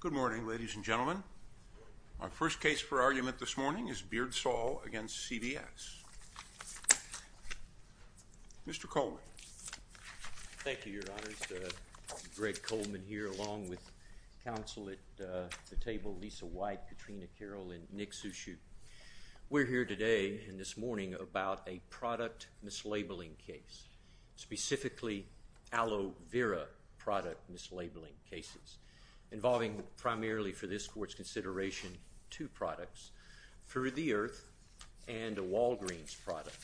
Good morning, ladies and gentlemen. Our first case for argument this morning is Beardsall v. CVS. Mr. Coleman. Thank you, Your Honors. Greg Coleman here along with counsel at the table, Lisa White, Katrina Carroll, and Nick Sushu. We're here today and this morning about a product mislabeling case, specifically aloe vera product mislabeling cases, involving primarily for this court's consideration two products, through the earth, and a Walgreens product.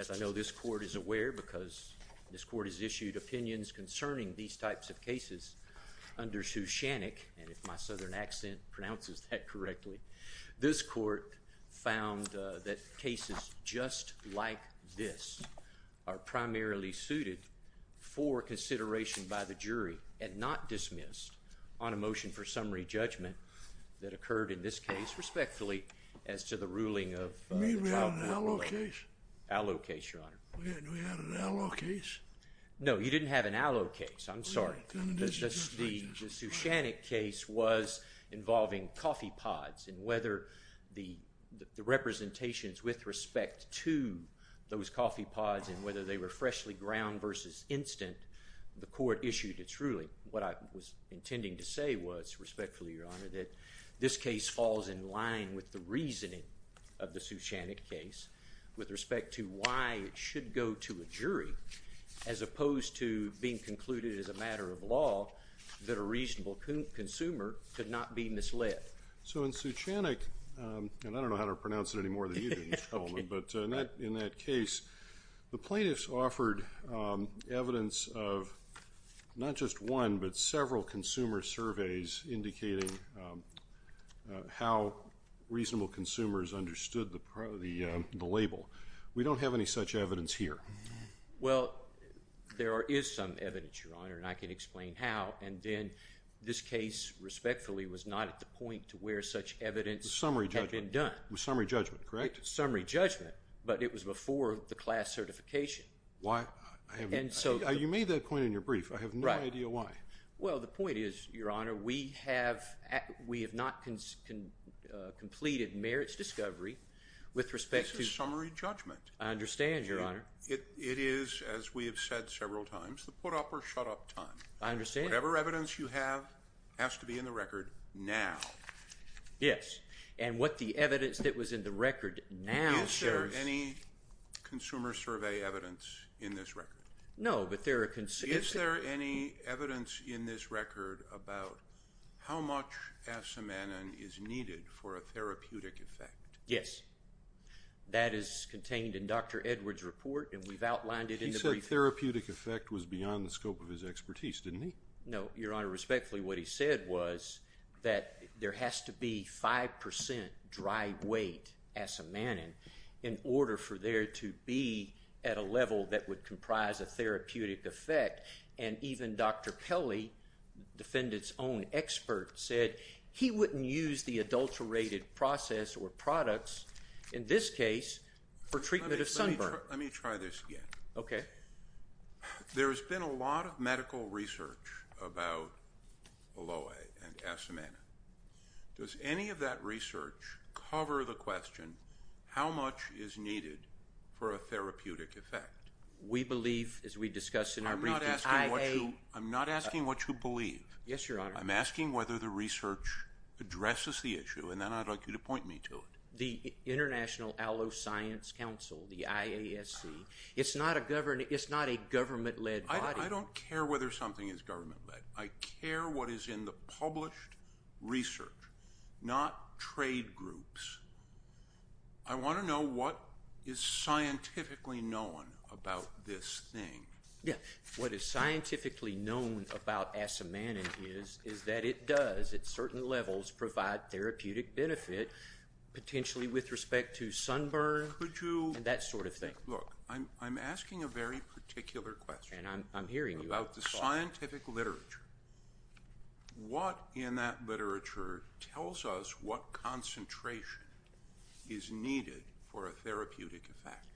As I know this court is aware, because this court has issued opinions concerning these types of cases, under Sue Shannick, and if my southern accent pronounces that correctly, this court found that cases just like this are primarily suited for consideration by the jury and not dismissed on a motion for summary judgment that occurred in this case, respectfully, as to the ruling of... You mean we had an aloe case? Aloe case, Your Honor. We had an aloe case? No, you didn't have an aloe case. I'm sorry. The Sue Shannick case was involving coffee pods and whether the representations with respect to those coffee pods and whether they were freshly ground versus instant, the court issued its ruling. What I was intending to say was, respectfully, Your Honor, that this case falls in line with the reasoning of the Sue Shannick case, with respect to why it should go to a jury, as opposed to being concluded as a matter of law that a reasonable consumer could not be misled. So in Sue Shannick, and I don't know how to pronounce it any more than you do, Mr. Coleman, but in that case, the plaintiffs offered evidence of not just one, but several consumer surveys indicating how reasonable consumers understood the label. We don't have any such evidence here. Well, there is some evidence, Your Honor, and I can explain how, and then this case, respectfully, was not at the point to where such evidence had been done. Summary judgment. Summary judgment, correct? Summary judgment, but it was before the class certification. You made that point in your brief. I have no idea why. Well, the point is, Your Honor, we have not completed merits discovery with respect to… This is summary judgment. I understand, Your Honor. It is, as we have said several times, the put up or shut up time. I understand. Whatever evidence you have has to be in the record now. Yes, and what the evidence that was in the record now says… Is there any consumer survey evidence in this record? No, but there are… Is there any evidence in this record about how much asamanin is needed for a therapeutic effect? Yes, that is contained in Dr. Edwards' report, and we've outlined it in the brief. He said therapeutic effect was beyond the scope of his expertise, didn't he? No, Your Honor. Respectfully, what he said was that there has to be 5% dry weight asamanin in order for there to be at a level that would comprise a therapeutic effect, and even Dr. Kelly, defendant's own expert, said he wouldn't use the adulterated process or products, in this case, for treatment of sunburn. Let me try this again. Okay. There has been a lot of medical research about aloe and asamanin. Does any of that research cover the question, how much is needed for a therapeutic effect? We believe, as we discussed in our brief, that IA… I'm not asking what you believe. Yes, Your Honor. I'm asking whether the research addresses the issue, and then I'd like you to point me to it. The International Aloe Science Council, the IASC, it's not a government-led body. I don't care whether something is government-led. I care what is in the published research, not trade groups. I want to know what is scientifically known about this thing. What is scientifically known about asamanin is that it does, at certain levels, provide therapeutic benefit, potentially with respect to sunburn and that sort of thing. Look, I'm asking a very particular question about the scientific literature. What in that literature tells us what concentration is needed for a therapeutic effect?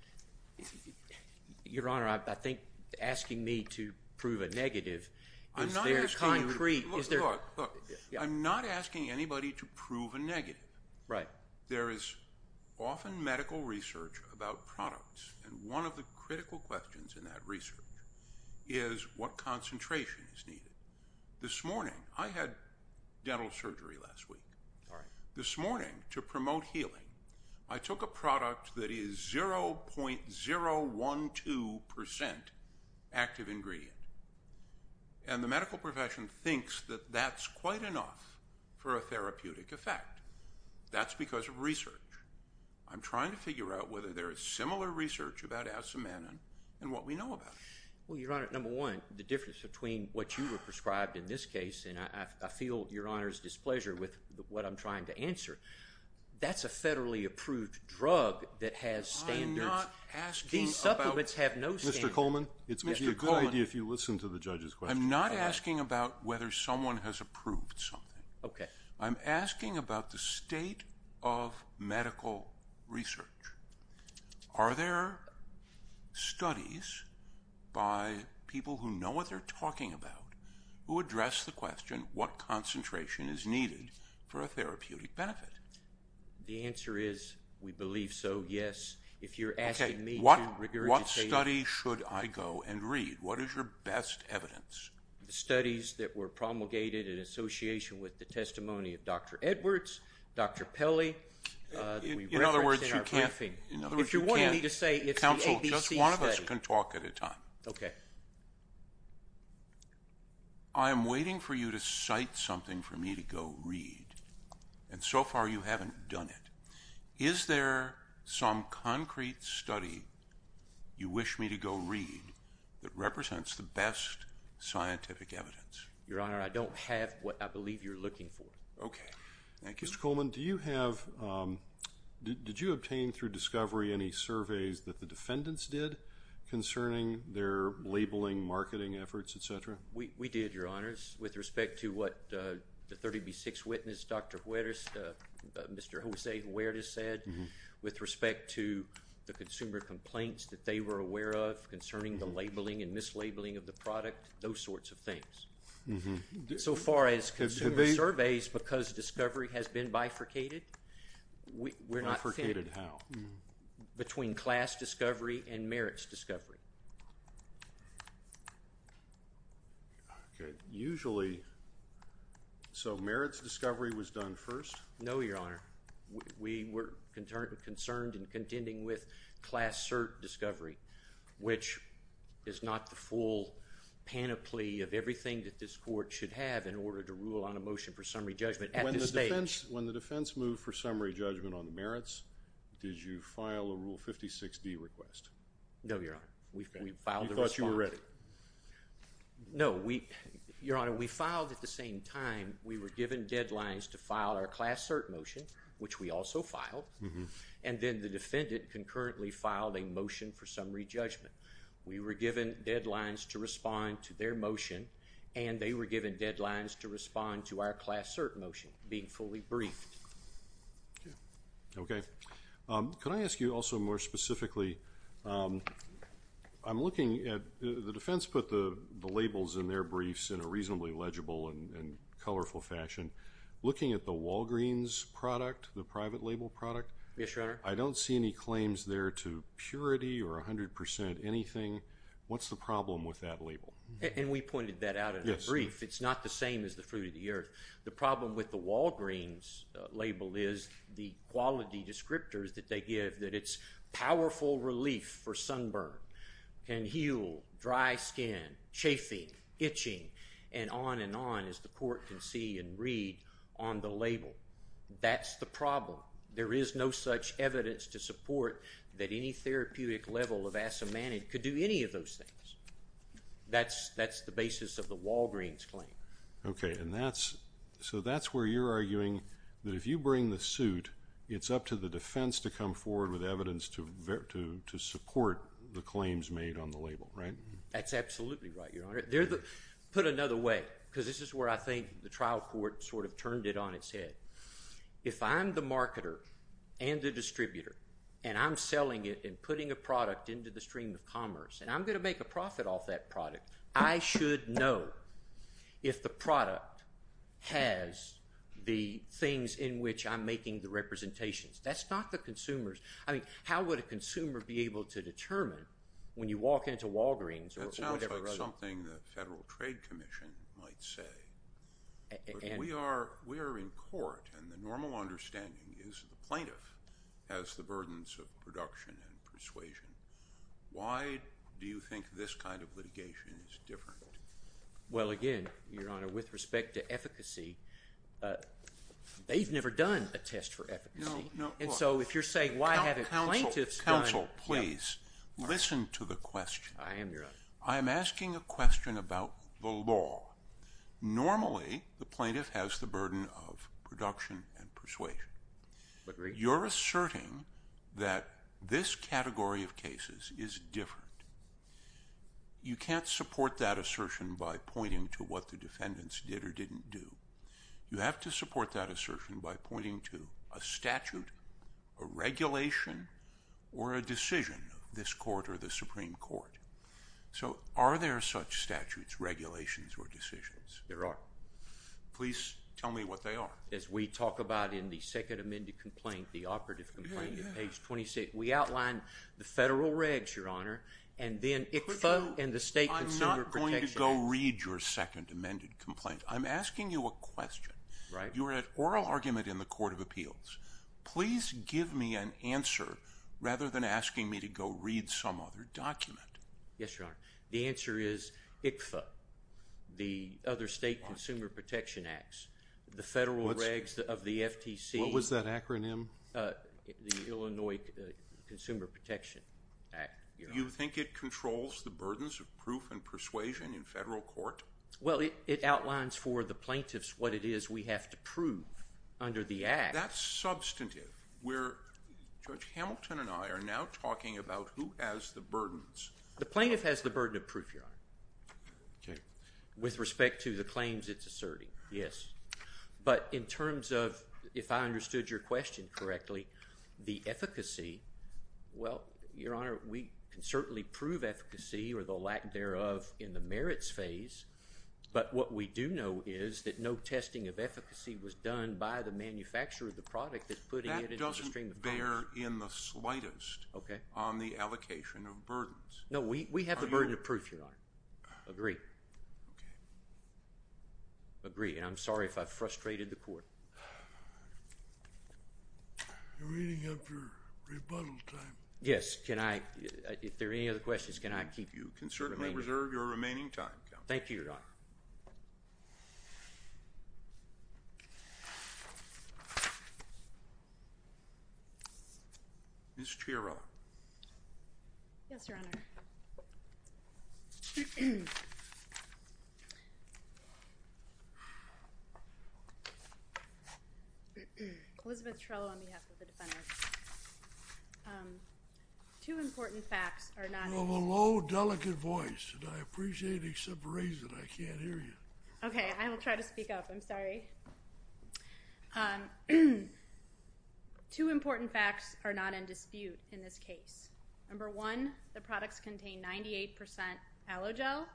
Your Honor, I think asking me to prove a negative is very concrete. Look, I'm not asking anybody to prove a negative. There is often medical research about products, and one of the critical questions in that research is what concentration is needed. This morning, I had dental surgery last week. This morning, to promote healing, I took a product that is 0.012 percent active ingredient, and the medical profession thinks that that's quite enough for a therapeutic effect. That's because of research. I'm trying to figure out whether there is similar research about asamanin and what we know about it. Well, Your Honor, number one, the difference between what you were prescribed in this case, and I feel Your Honor's displeasure with what I'm trying to answer, that's a federally approved drug that has standards. I'm not asking about— These supplements have no standards. Mr. Coleman, it would be a good idea if you listened to the judge's question. I'm not asking about whether someone has approved something. Okay. I'm asking about the state of medical research. Are there studies by people who know what they're talking about who address the question what concentration is needed for a therapeutic benefit? The answer is we believe so, yes. If you're asking me to regurgitate— Okay. What study should I go and read? What is your best evidence? The studies that were promulgated in association with the testimony of Dr. Edwards, Dr. Pelley. In other words, you can't— If you want me to say it's the ABC study— Counsel, just one of us can talk at a time. Okay. I am waiting for you to cite something for me to go read, and so far you haven't done it. Is there some concrete study you wish me to go read that represents the best scientific evidence? Your Honor, I don't have what I believe you're looking for. Okay. Thank you. Judge Coleman, did you obtain through discovery any surveys that the defendants did concerning their labeling, marketing efforts, et cetera? We did, Your Honors, with respect to what the 30B6 witness, Dr. Huertas, Mr. Jose Huertas said, with respect to the consumer complaints that they were aware of concerning the labeling and mislabeling of the product, those sorts of things. So far as consumer surveys, because discovery has been bifurcated, we're not— Bifurcated how? Between class discovery and merits discovery. Usually—so merits discovery was done first? No, Your Honor. We were concerned and contending with class cert discovery, which is not the full panoply of everything that this court should have in order to rule on a motion for summary judgment at this stage. When the defense moved for summary judgment on the merits, did you file a Rule 56D request? No, Your Honor. We filed a response. You thought you were ready. No, we—Your Honor, we filed at the same time. We were given deadlines to file our class cert motion, which we also filed, and then the defendant concurrently filed a motion for summary judgment. We were given deadlines to respond to their motion, and they were given deadlines to respond to our class cert motion being fully briefed. Okay. Could I ask you also more specifically—I'm looking at—the defense put the labels in their briefs in a reasonably legible and colorful fashion. Looking at the Walgreens product, the private label product— Yes, Your Honor. I don't see any claims there to purity or 100 percent anything. What's the problem with that label? And we pointed that out in a brief. It's not the same as the fruit of the earth. The problem with the Walgreens label is the quality descriptors that they give, that it's powerful relief for sunburn, can heal dry skin, chafing, itching, and on and on, as the court can see and read on the label. That's the problem. There is no such evidence to support that any therapeutic level of asimmanid could do any of those things. That's the basis of the Walgreens claim. Okay, and that's—so that's where you're arguing that if you bring the suit, it's up to the defense to come forward with evidence to support the claims made on the label, right? That's absolutely right, Your Honor. Put another way, because this is where I think the trial court sort of turned it on its head. If I'm the marketer and the distributor, and I'm selling it and putting a product into the stream of commerce, and I'm going to make a profit off that product, I should know if the product has the things in which I'm making the representations. That's not the consumer's—I mean, how would a consumer be able to determine when you walk into Walgreens or whatever— That sounds like something the Federal Trade Commission might say. We are in court, and the normal understanding is the plaintiff has the burdens of production and persuasion. Why do you think this kind of litigation is different? Well, again, Your Honor, with respect to efficacy, they've never done a test for efficacy. No, no. And so if you're saying why haven't plaintiffs done— Counsel, please, listen to the question. I am, Your Honor. I am asking a question about the law. Normally, the plaintiff has the burden of production and persuasion. Agreed. But you're asserting that this category of cases is different. You can't support that assertion by pointing to what the defendants did or didn't do. You have to support that assertion by pointing to a statute, a regulation, or a decision of this court or the Supreme Court. So are there such statutes, regulations, or decisions? There are. Please tell me what they are. As we talk about in the second amended complaint, the operative complaint at page 26, we outline the federal regs, Your Honor, and then ICFA and the State Consumer Protection Act. I'm not going to go read your second amended complaint. I'm asking you a question. Right. You're at oral argument in the Court of Appeals. Please give me an answer rather than asking me to go read some other document. Yes, Your Honor. The answer is ICFA, the other State Consumer Protection Act, the federal regs of the FTC. What was that acronym? The Illinois Consumer Protection Act, Your Honor. You think it controls the burdens of proof and persuasion in federal court? Well, it outlines for the plaintiffs what it is we have to prove under the act. That's substantive. Judge Hamilton and I are now talking about who has the burdens. The plaintiff has the burden of proof, Your Honor. Okay. With respect to the claims it's asserting, yes. But in terms of, if I understood your question correctly, the efficacy, well, Your Honor, we can certainly prove efficacy or the lack thereof in the merits phase. But what we do know is that no testing of efficacy was done by the manufacturer of the product that's putting it into the stream of funds. Okay. On the allocation of burdens. No, we have the burden of proof, Your Honor. Agree. Okay. Agree. And I'm sorry if I frustrated the court. You're eating up your rebuttal time. Yes. Can I, if there are any other questions, can I keep the remaining time? You can certainly reserve your remaining time, Counselor. Thank you, Your Honor. Ms. Chiarella. Yes, Your Honor. Elizabeth Chiarella on behalf of the defendant. Two important facts are not in here. You have a low, delicate voice, and I appreciate it except for a reason. I can't hear you. Okay. I will try to speak up. I'm sorry. Two important facts are not in dispute in this case. Number one, the products contain 98% aloe gel.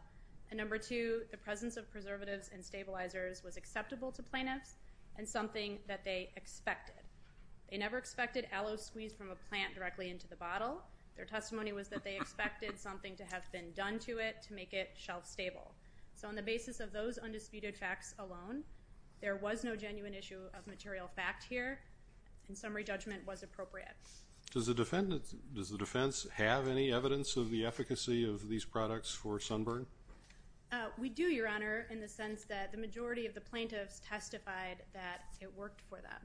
And number two, the presence of preservatives and stabilizers was acceptable to plaintiffs and something that they expected. They never expected aloe squeezed from a plant directly into the bottle. Their testimony was that they expected something to have been done to it to make it shelf-stable. So on the basis of those undisputed facts alone, there was no genuine issue of material fact here, and summary judgment was appropriate. Does the defense have any evidence of the efficacy of these products for sunburn? We do, Your Honor, in the sense that the majority of the plaintiffs testified that it worked for them.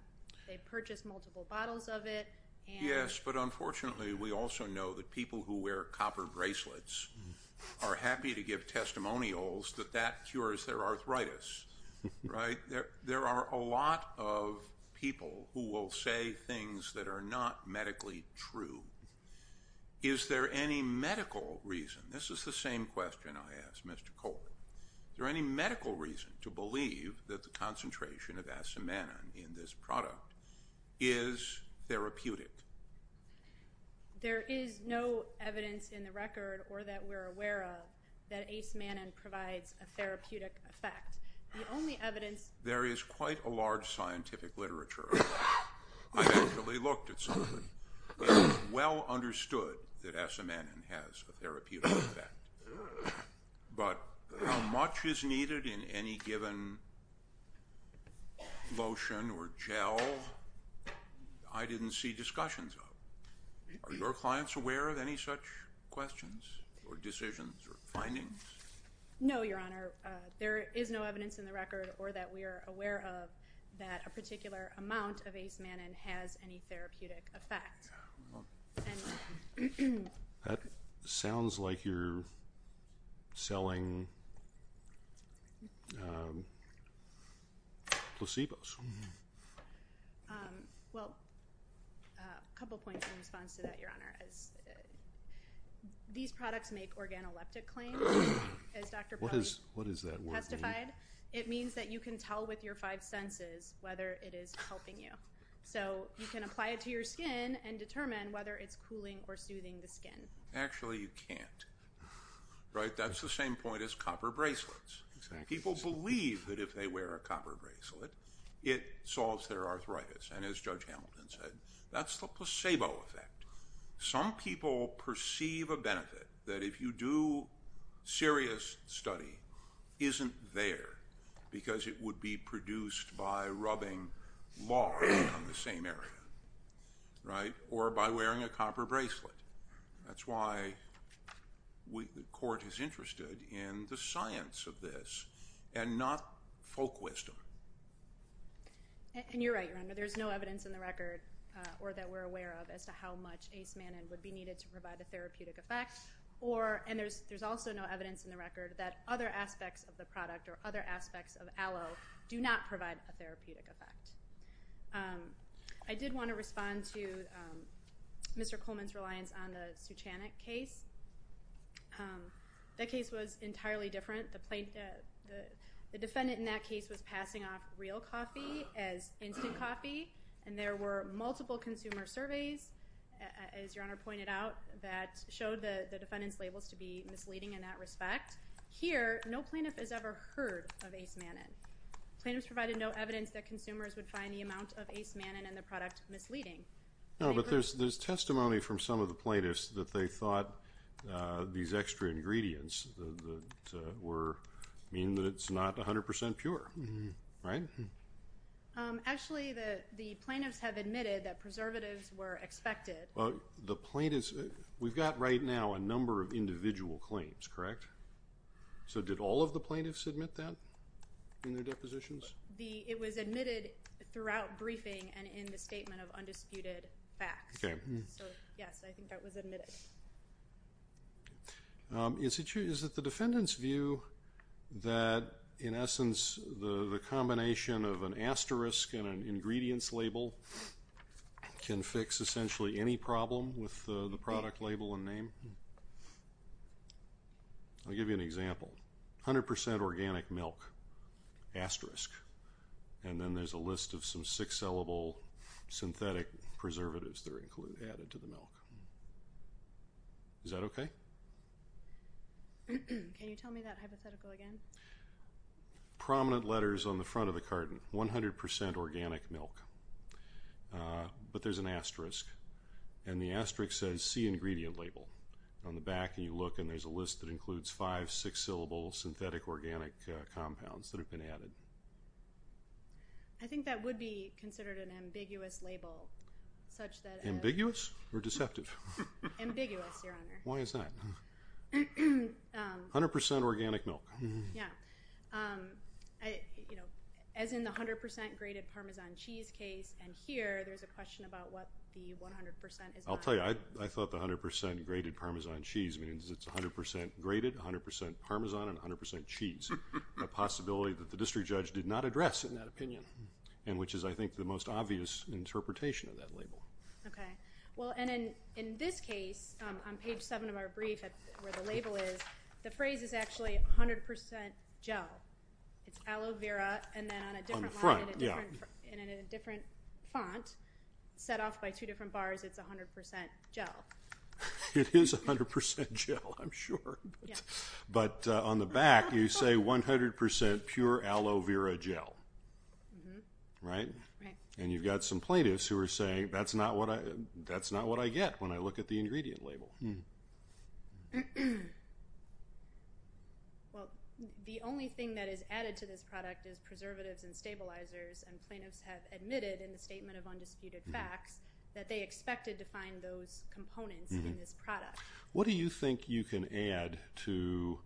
They purchased multiple bottles of it. Yes, but unfortunately we also know that people who wear copper bracelets are happy to give testimonials that that cures their arthritis, right? There are a lot of people who will say things that are not medically true. Is there any medical reason? This is the same question I asked Mr. Colbert. Is there any medical reason to believe that the concentration of asamannan in this product is therapeutic? There is no evidence in the record or that we're aware of that asamannan provides a therapeutic effect. The only evidence— There is quite a large scientific literature on that. I actually looked at some of it. It is well understood that asamannan has a therapeutic effect. But how much is needed in any given lotion or gel, I didn't see discussions of. Are your clients aware of any such questions or decisions or findings? No, Your Honor. There is no evidence in the record or that we are aware of that a particular amount of asamannan has any therapeutic effect. That sounds like you're selling placebos. Well, a couple points in response to that, Your Honor. These products make organoleptic claims, as Dr. Polley testified. What does that word mean? It means that you can tell with your five senses whether it is helping you. So you can apply it to your skin and determine whether it's cooling or soothing the skin. Actually, you can't. That's the same point as copper bracelets. People believe that if they wear a copper bracelet, it solves their arthritis. And as Judge Hamilton said, that's the placebo effect. Some people perceive a benefit that if you do serious study isn't there because it would be produced by rubbing lard on the same area, right? Or by wearing a copper bracelet. That's why the court is interested in the science of this and not folk wisdom. And you're right, Your Honor. There's no evidence in the record or that we're aware of as to how much asamannan would be needed to provide a therapeutic effect. And there's also no evidence in the record that other aspects of the product or other aspects of aloe do not provide a therapeutic effect. I did want to respond to Mr. Coleman's reliance on the Suchanik case. That case was entirely different. The defendant in that case was passing off real coffee as instant coffee. And there were multiple consumer surveys, as Your Honor pointed out, that showed the defendant's labels to be misleading in that respect. Here, no plaintiff has ever heard of asamannan. Plaintiffs provided no evidence that consumers would find the amount of asamannan in the product misleading. No, but there's testimony from some of the plaintiffs that they thought these extra ingredients were meaning that it's not 100 percent pure, right? Actually, the plaintiffs have admitted that preservatives were expected. Well, the plaintiffs, we've got right now a number of individual claims, correct? So did all of the plaintiffs admit that in their depositions? It was admitted throughout briefing and in the statement of undisputed facts. Okay. So, yes, I think that was admitted. Is it the defendant's view that, in essence, the combination of an asterisk and an ingredients label can fix essentially any problem with the product label and name? I'll give you an example. 100 percent organic milk, asterisk. And then there's a list of some six-syllable synthetic preservatives that are added to the milk. Is that okay? Can you tell me that hypothetical again? Prominent letters on the front of the carton. 100 percent organic milk. But there's an asterisk. And the asterisk says C ingredient label. On the back, you look, and there's a list that includes five six-syllable synthetic organic compounds that have been added. I think that would be considered an ambiguous label such that it is. Ambiguous or deceptive? Ambiguous, Your Honor. Why is that? 100 percent organic milk. Yeah. As in the 100 percent grated Parmesan cheese case and here, there's a question about what the 100 percent is not. I'll tell you. I thought the 100 percent grated Parmesan cheese means it's 100 percent grated, 100 percent Parmesan, and 100 percent cheese. A possibility that the district judge did not address in that opinion and which is, I think, the most obvious interpretation of that label. Okay. Well, and in this case, on page 7 of our brief where the label is, the phrase is actually 100 percent gel. It's aloe vera and then on a different line and in a different font set off by two different bars, it's 100 percent gel. It is 100 percent gel, I'm sure. But on the back, you say 100 percent pure aloe vera gel, right? Right. And you've got some plaintiffs who are saying that's not what I get when I look at the ingredient label. Well, the only thing that is added to this product is preservatives and stabilizers, and plaintiffs have admitted in the statement of undisputed facts that they expected to find those components in this product. What do you think you can add to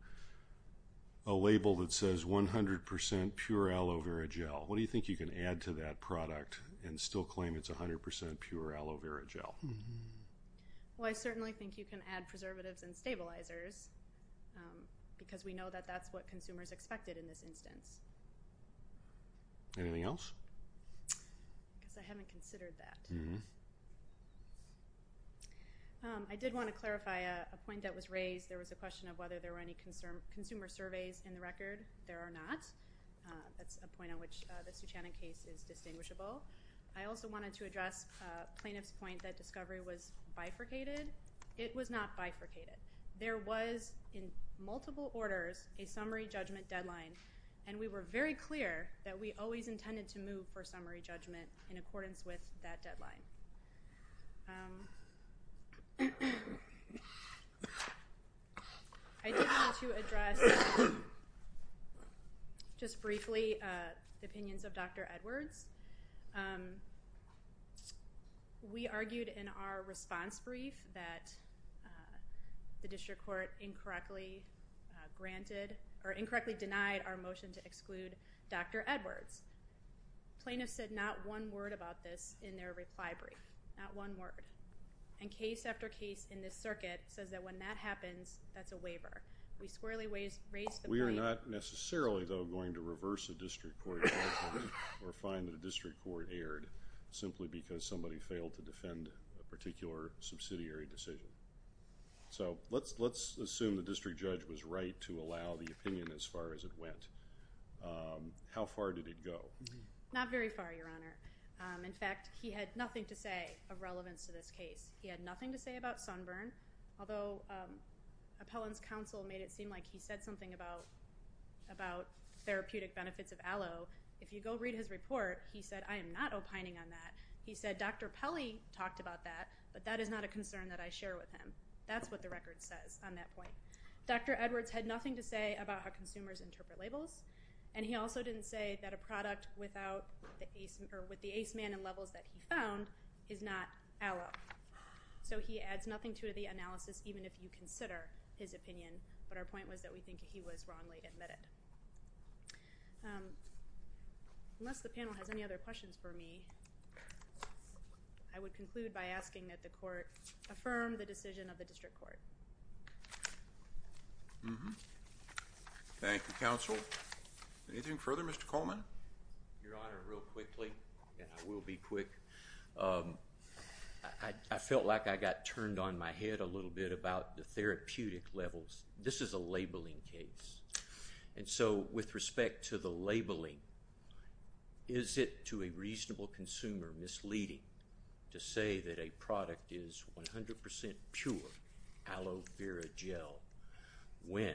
a label that says 100 percent pure aloe vera gel? What do you think you can add to that product and still claim it's 100 percent pure aloe vera gel? Well, I certainly think you can add preservatives and stabilizers because we know that that's what consumers expected in this instance. Anything else? I guess I haven't considered that. I did want to clarify a point that was raised. There was a question of whether there were any consumer surveys in the record. There are not. That's a point on which the Suchanan case is distinguishable. I also wanted to address plaintiff's point that discovery was bifurcated. It was not bifurcated. There was, in multiple orders, a summary judgment deadline, and we were very clear that we always intended to move for summary judgment in accordance with that deadline. I did want to address just briefly the opinions of Dr. Edwards. We argued in our response brief that the district court incorrectly granted or incorrectly denied our motion to exclude Dr. Edwards. Plaintiffs said not one word about this in their reply brief, not one word, and case after case in this circuit says that when that happens, that's a waiver. We squarely raised the point. We're not necessarily, though, going to reverse a district court judgment or find that a district court erred simply because somebody failed to defend a particular subsidiary decision. So let's assume the district judge was right to allow the opinion as far as it went. How far did it go? Not very far, Your Honor. In fact, he had nothing to say of relevance to this case. He had nothing to say about Sunburn, although Appellant's counsel made it seem like he said something about therapeutic benefits of aloe. If you go read his report, he said, I am not opining on that. He said, Dr. Pelley talked about that, but that is not a concern that I share with him. That's what the record says on that point. Dr. Edwards had nothing to say about how consumers interpret labels, and he also didn't say that a product with the ACE man and levels that he found is not aloe. So he adds nothing to the analysis, even if you consider his opinion, but our point was that we think he was wrongly admitted. Unless the panel has any other questions for me, I would conclude by asking that the court affirm the decision of the district court. Thank you, counsel. Anything further, Mr. Coleman? Your Honor, real quickly, and I will be quick. I felt like I got turned on my head a little bit about the therapeutic levels. This is a labeling case, and so with respect to the labeling, is it to a reasonable consumer misleading to say that a product is 100% pure aloe vera gel when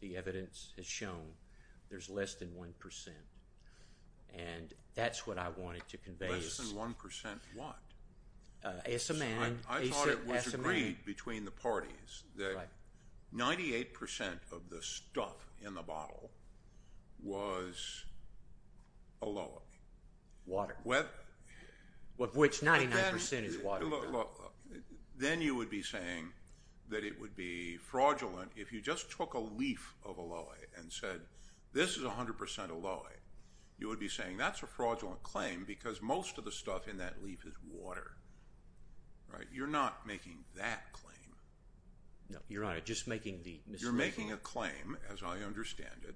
the evidence has shown there's less than 1%, and that's what I wanted to convey. Less than 1% what? I thought it was agreed between the parties that 98% of the stuff in the bottle was aloe. Water, of which 99% is water. Then you would be saying that it would be fraudulent if you just took a leaf of aloe and said this is 100% aloe. You would be saying that's a fraudulent claim because most of the stuff in that leaf is water. You're not making that claim. No, Your Honor, just making the mislabeling. You're making a claim, as I understand it,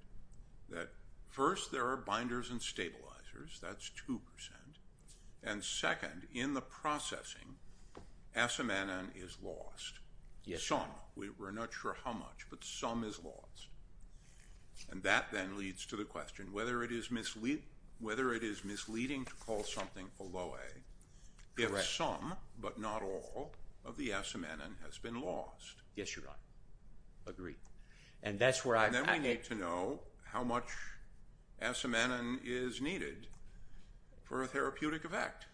that first there are binders and stabilizers, that's 2%, and second, in the processing, asamenin is lost. Some, we're not sure how much, but some is lost. And that then leads to the question whether it is misleading to call something aloe if some, but not all, of the asamenin has been lost. Yes, Your Honor. Agreed. And then we need to know how much asamenin is needed for a therapeutic effect.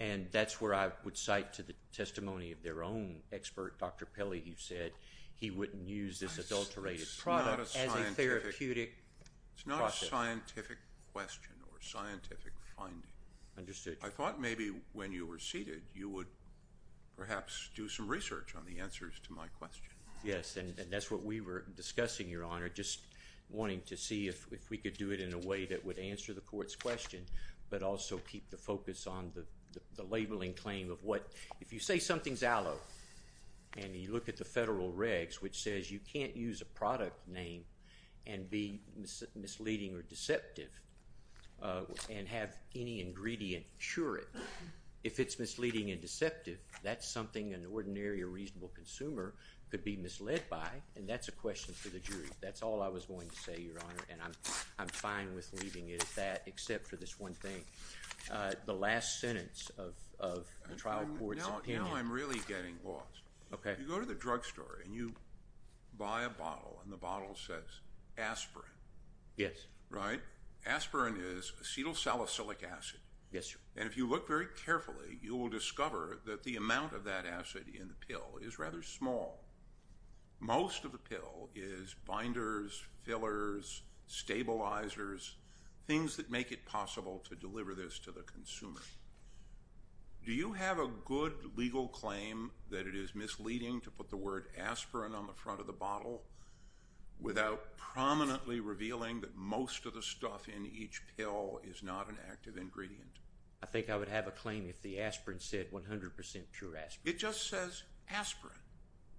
And that's where I would cite to the testimony of their own expert, Dr. Pelley, who said he wouldn't use this adulterated product as a therapeutic process. It's not a scientific question or scientific finding. Understood. I thought maybe when you were seated you would perhaps do some research on the answers to my question. Yes, and that's what we were discussing, Your Honor, just wanting to see if we could do it in a way that would answer the court's question but also keep the focus on the labeling claim of what, if you say something's aloe and you look at the federal regs which says you can't use a product name and be misleading or deceptive and have any ingredient cure it. If it's misleading and deceptive, that's something an ordinary or reasonable consumer could be misled by, and that's a question for the jury. That's all I was going to say, Your Honor, and I'm fine with leaving it at that except for this one thing, the last sentence of the trial court's opinion. You know, I'm really getting lost. Okay. You go to the drugstore and you buy a bottle and the bottle says aspirin. Yes. Right? Aspirin is acetylsalicylic acid. Yes, sir. And if you look very carefully, you will discover that the amount of that acid in the pill is rather small. Most of the pill is binders, fillers, stabilizers, things that make it possible to deliver this to the consumer. Do you have a good legal claim that it is misleading to put the word aspirin on the front of the bottle without prominently revealing that most of the stuff in each pill is not an active ingredient? I think I would have a claim if the aspirin said 100% pure aspirin. It just says aspirin.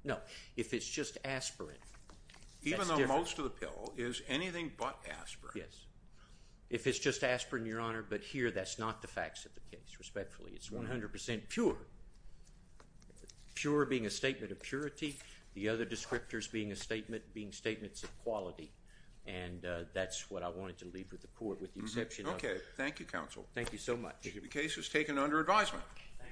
No. If it's just aspirin, that's different. Even though most of the pill is anything but aspirin. Yes. If it's just aspirin, Your Honor, but here that's not the facts of the case, respectfully. It's 100% pure. Pure being a statement of purity, the other descriptors being statements of quality, and that's what I wanted to leave with the Court with the exception of... Okay. Thank you, Counsel. Thank you so much. The case was taken under advisement.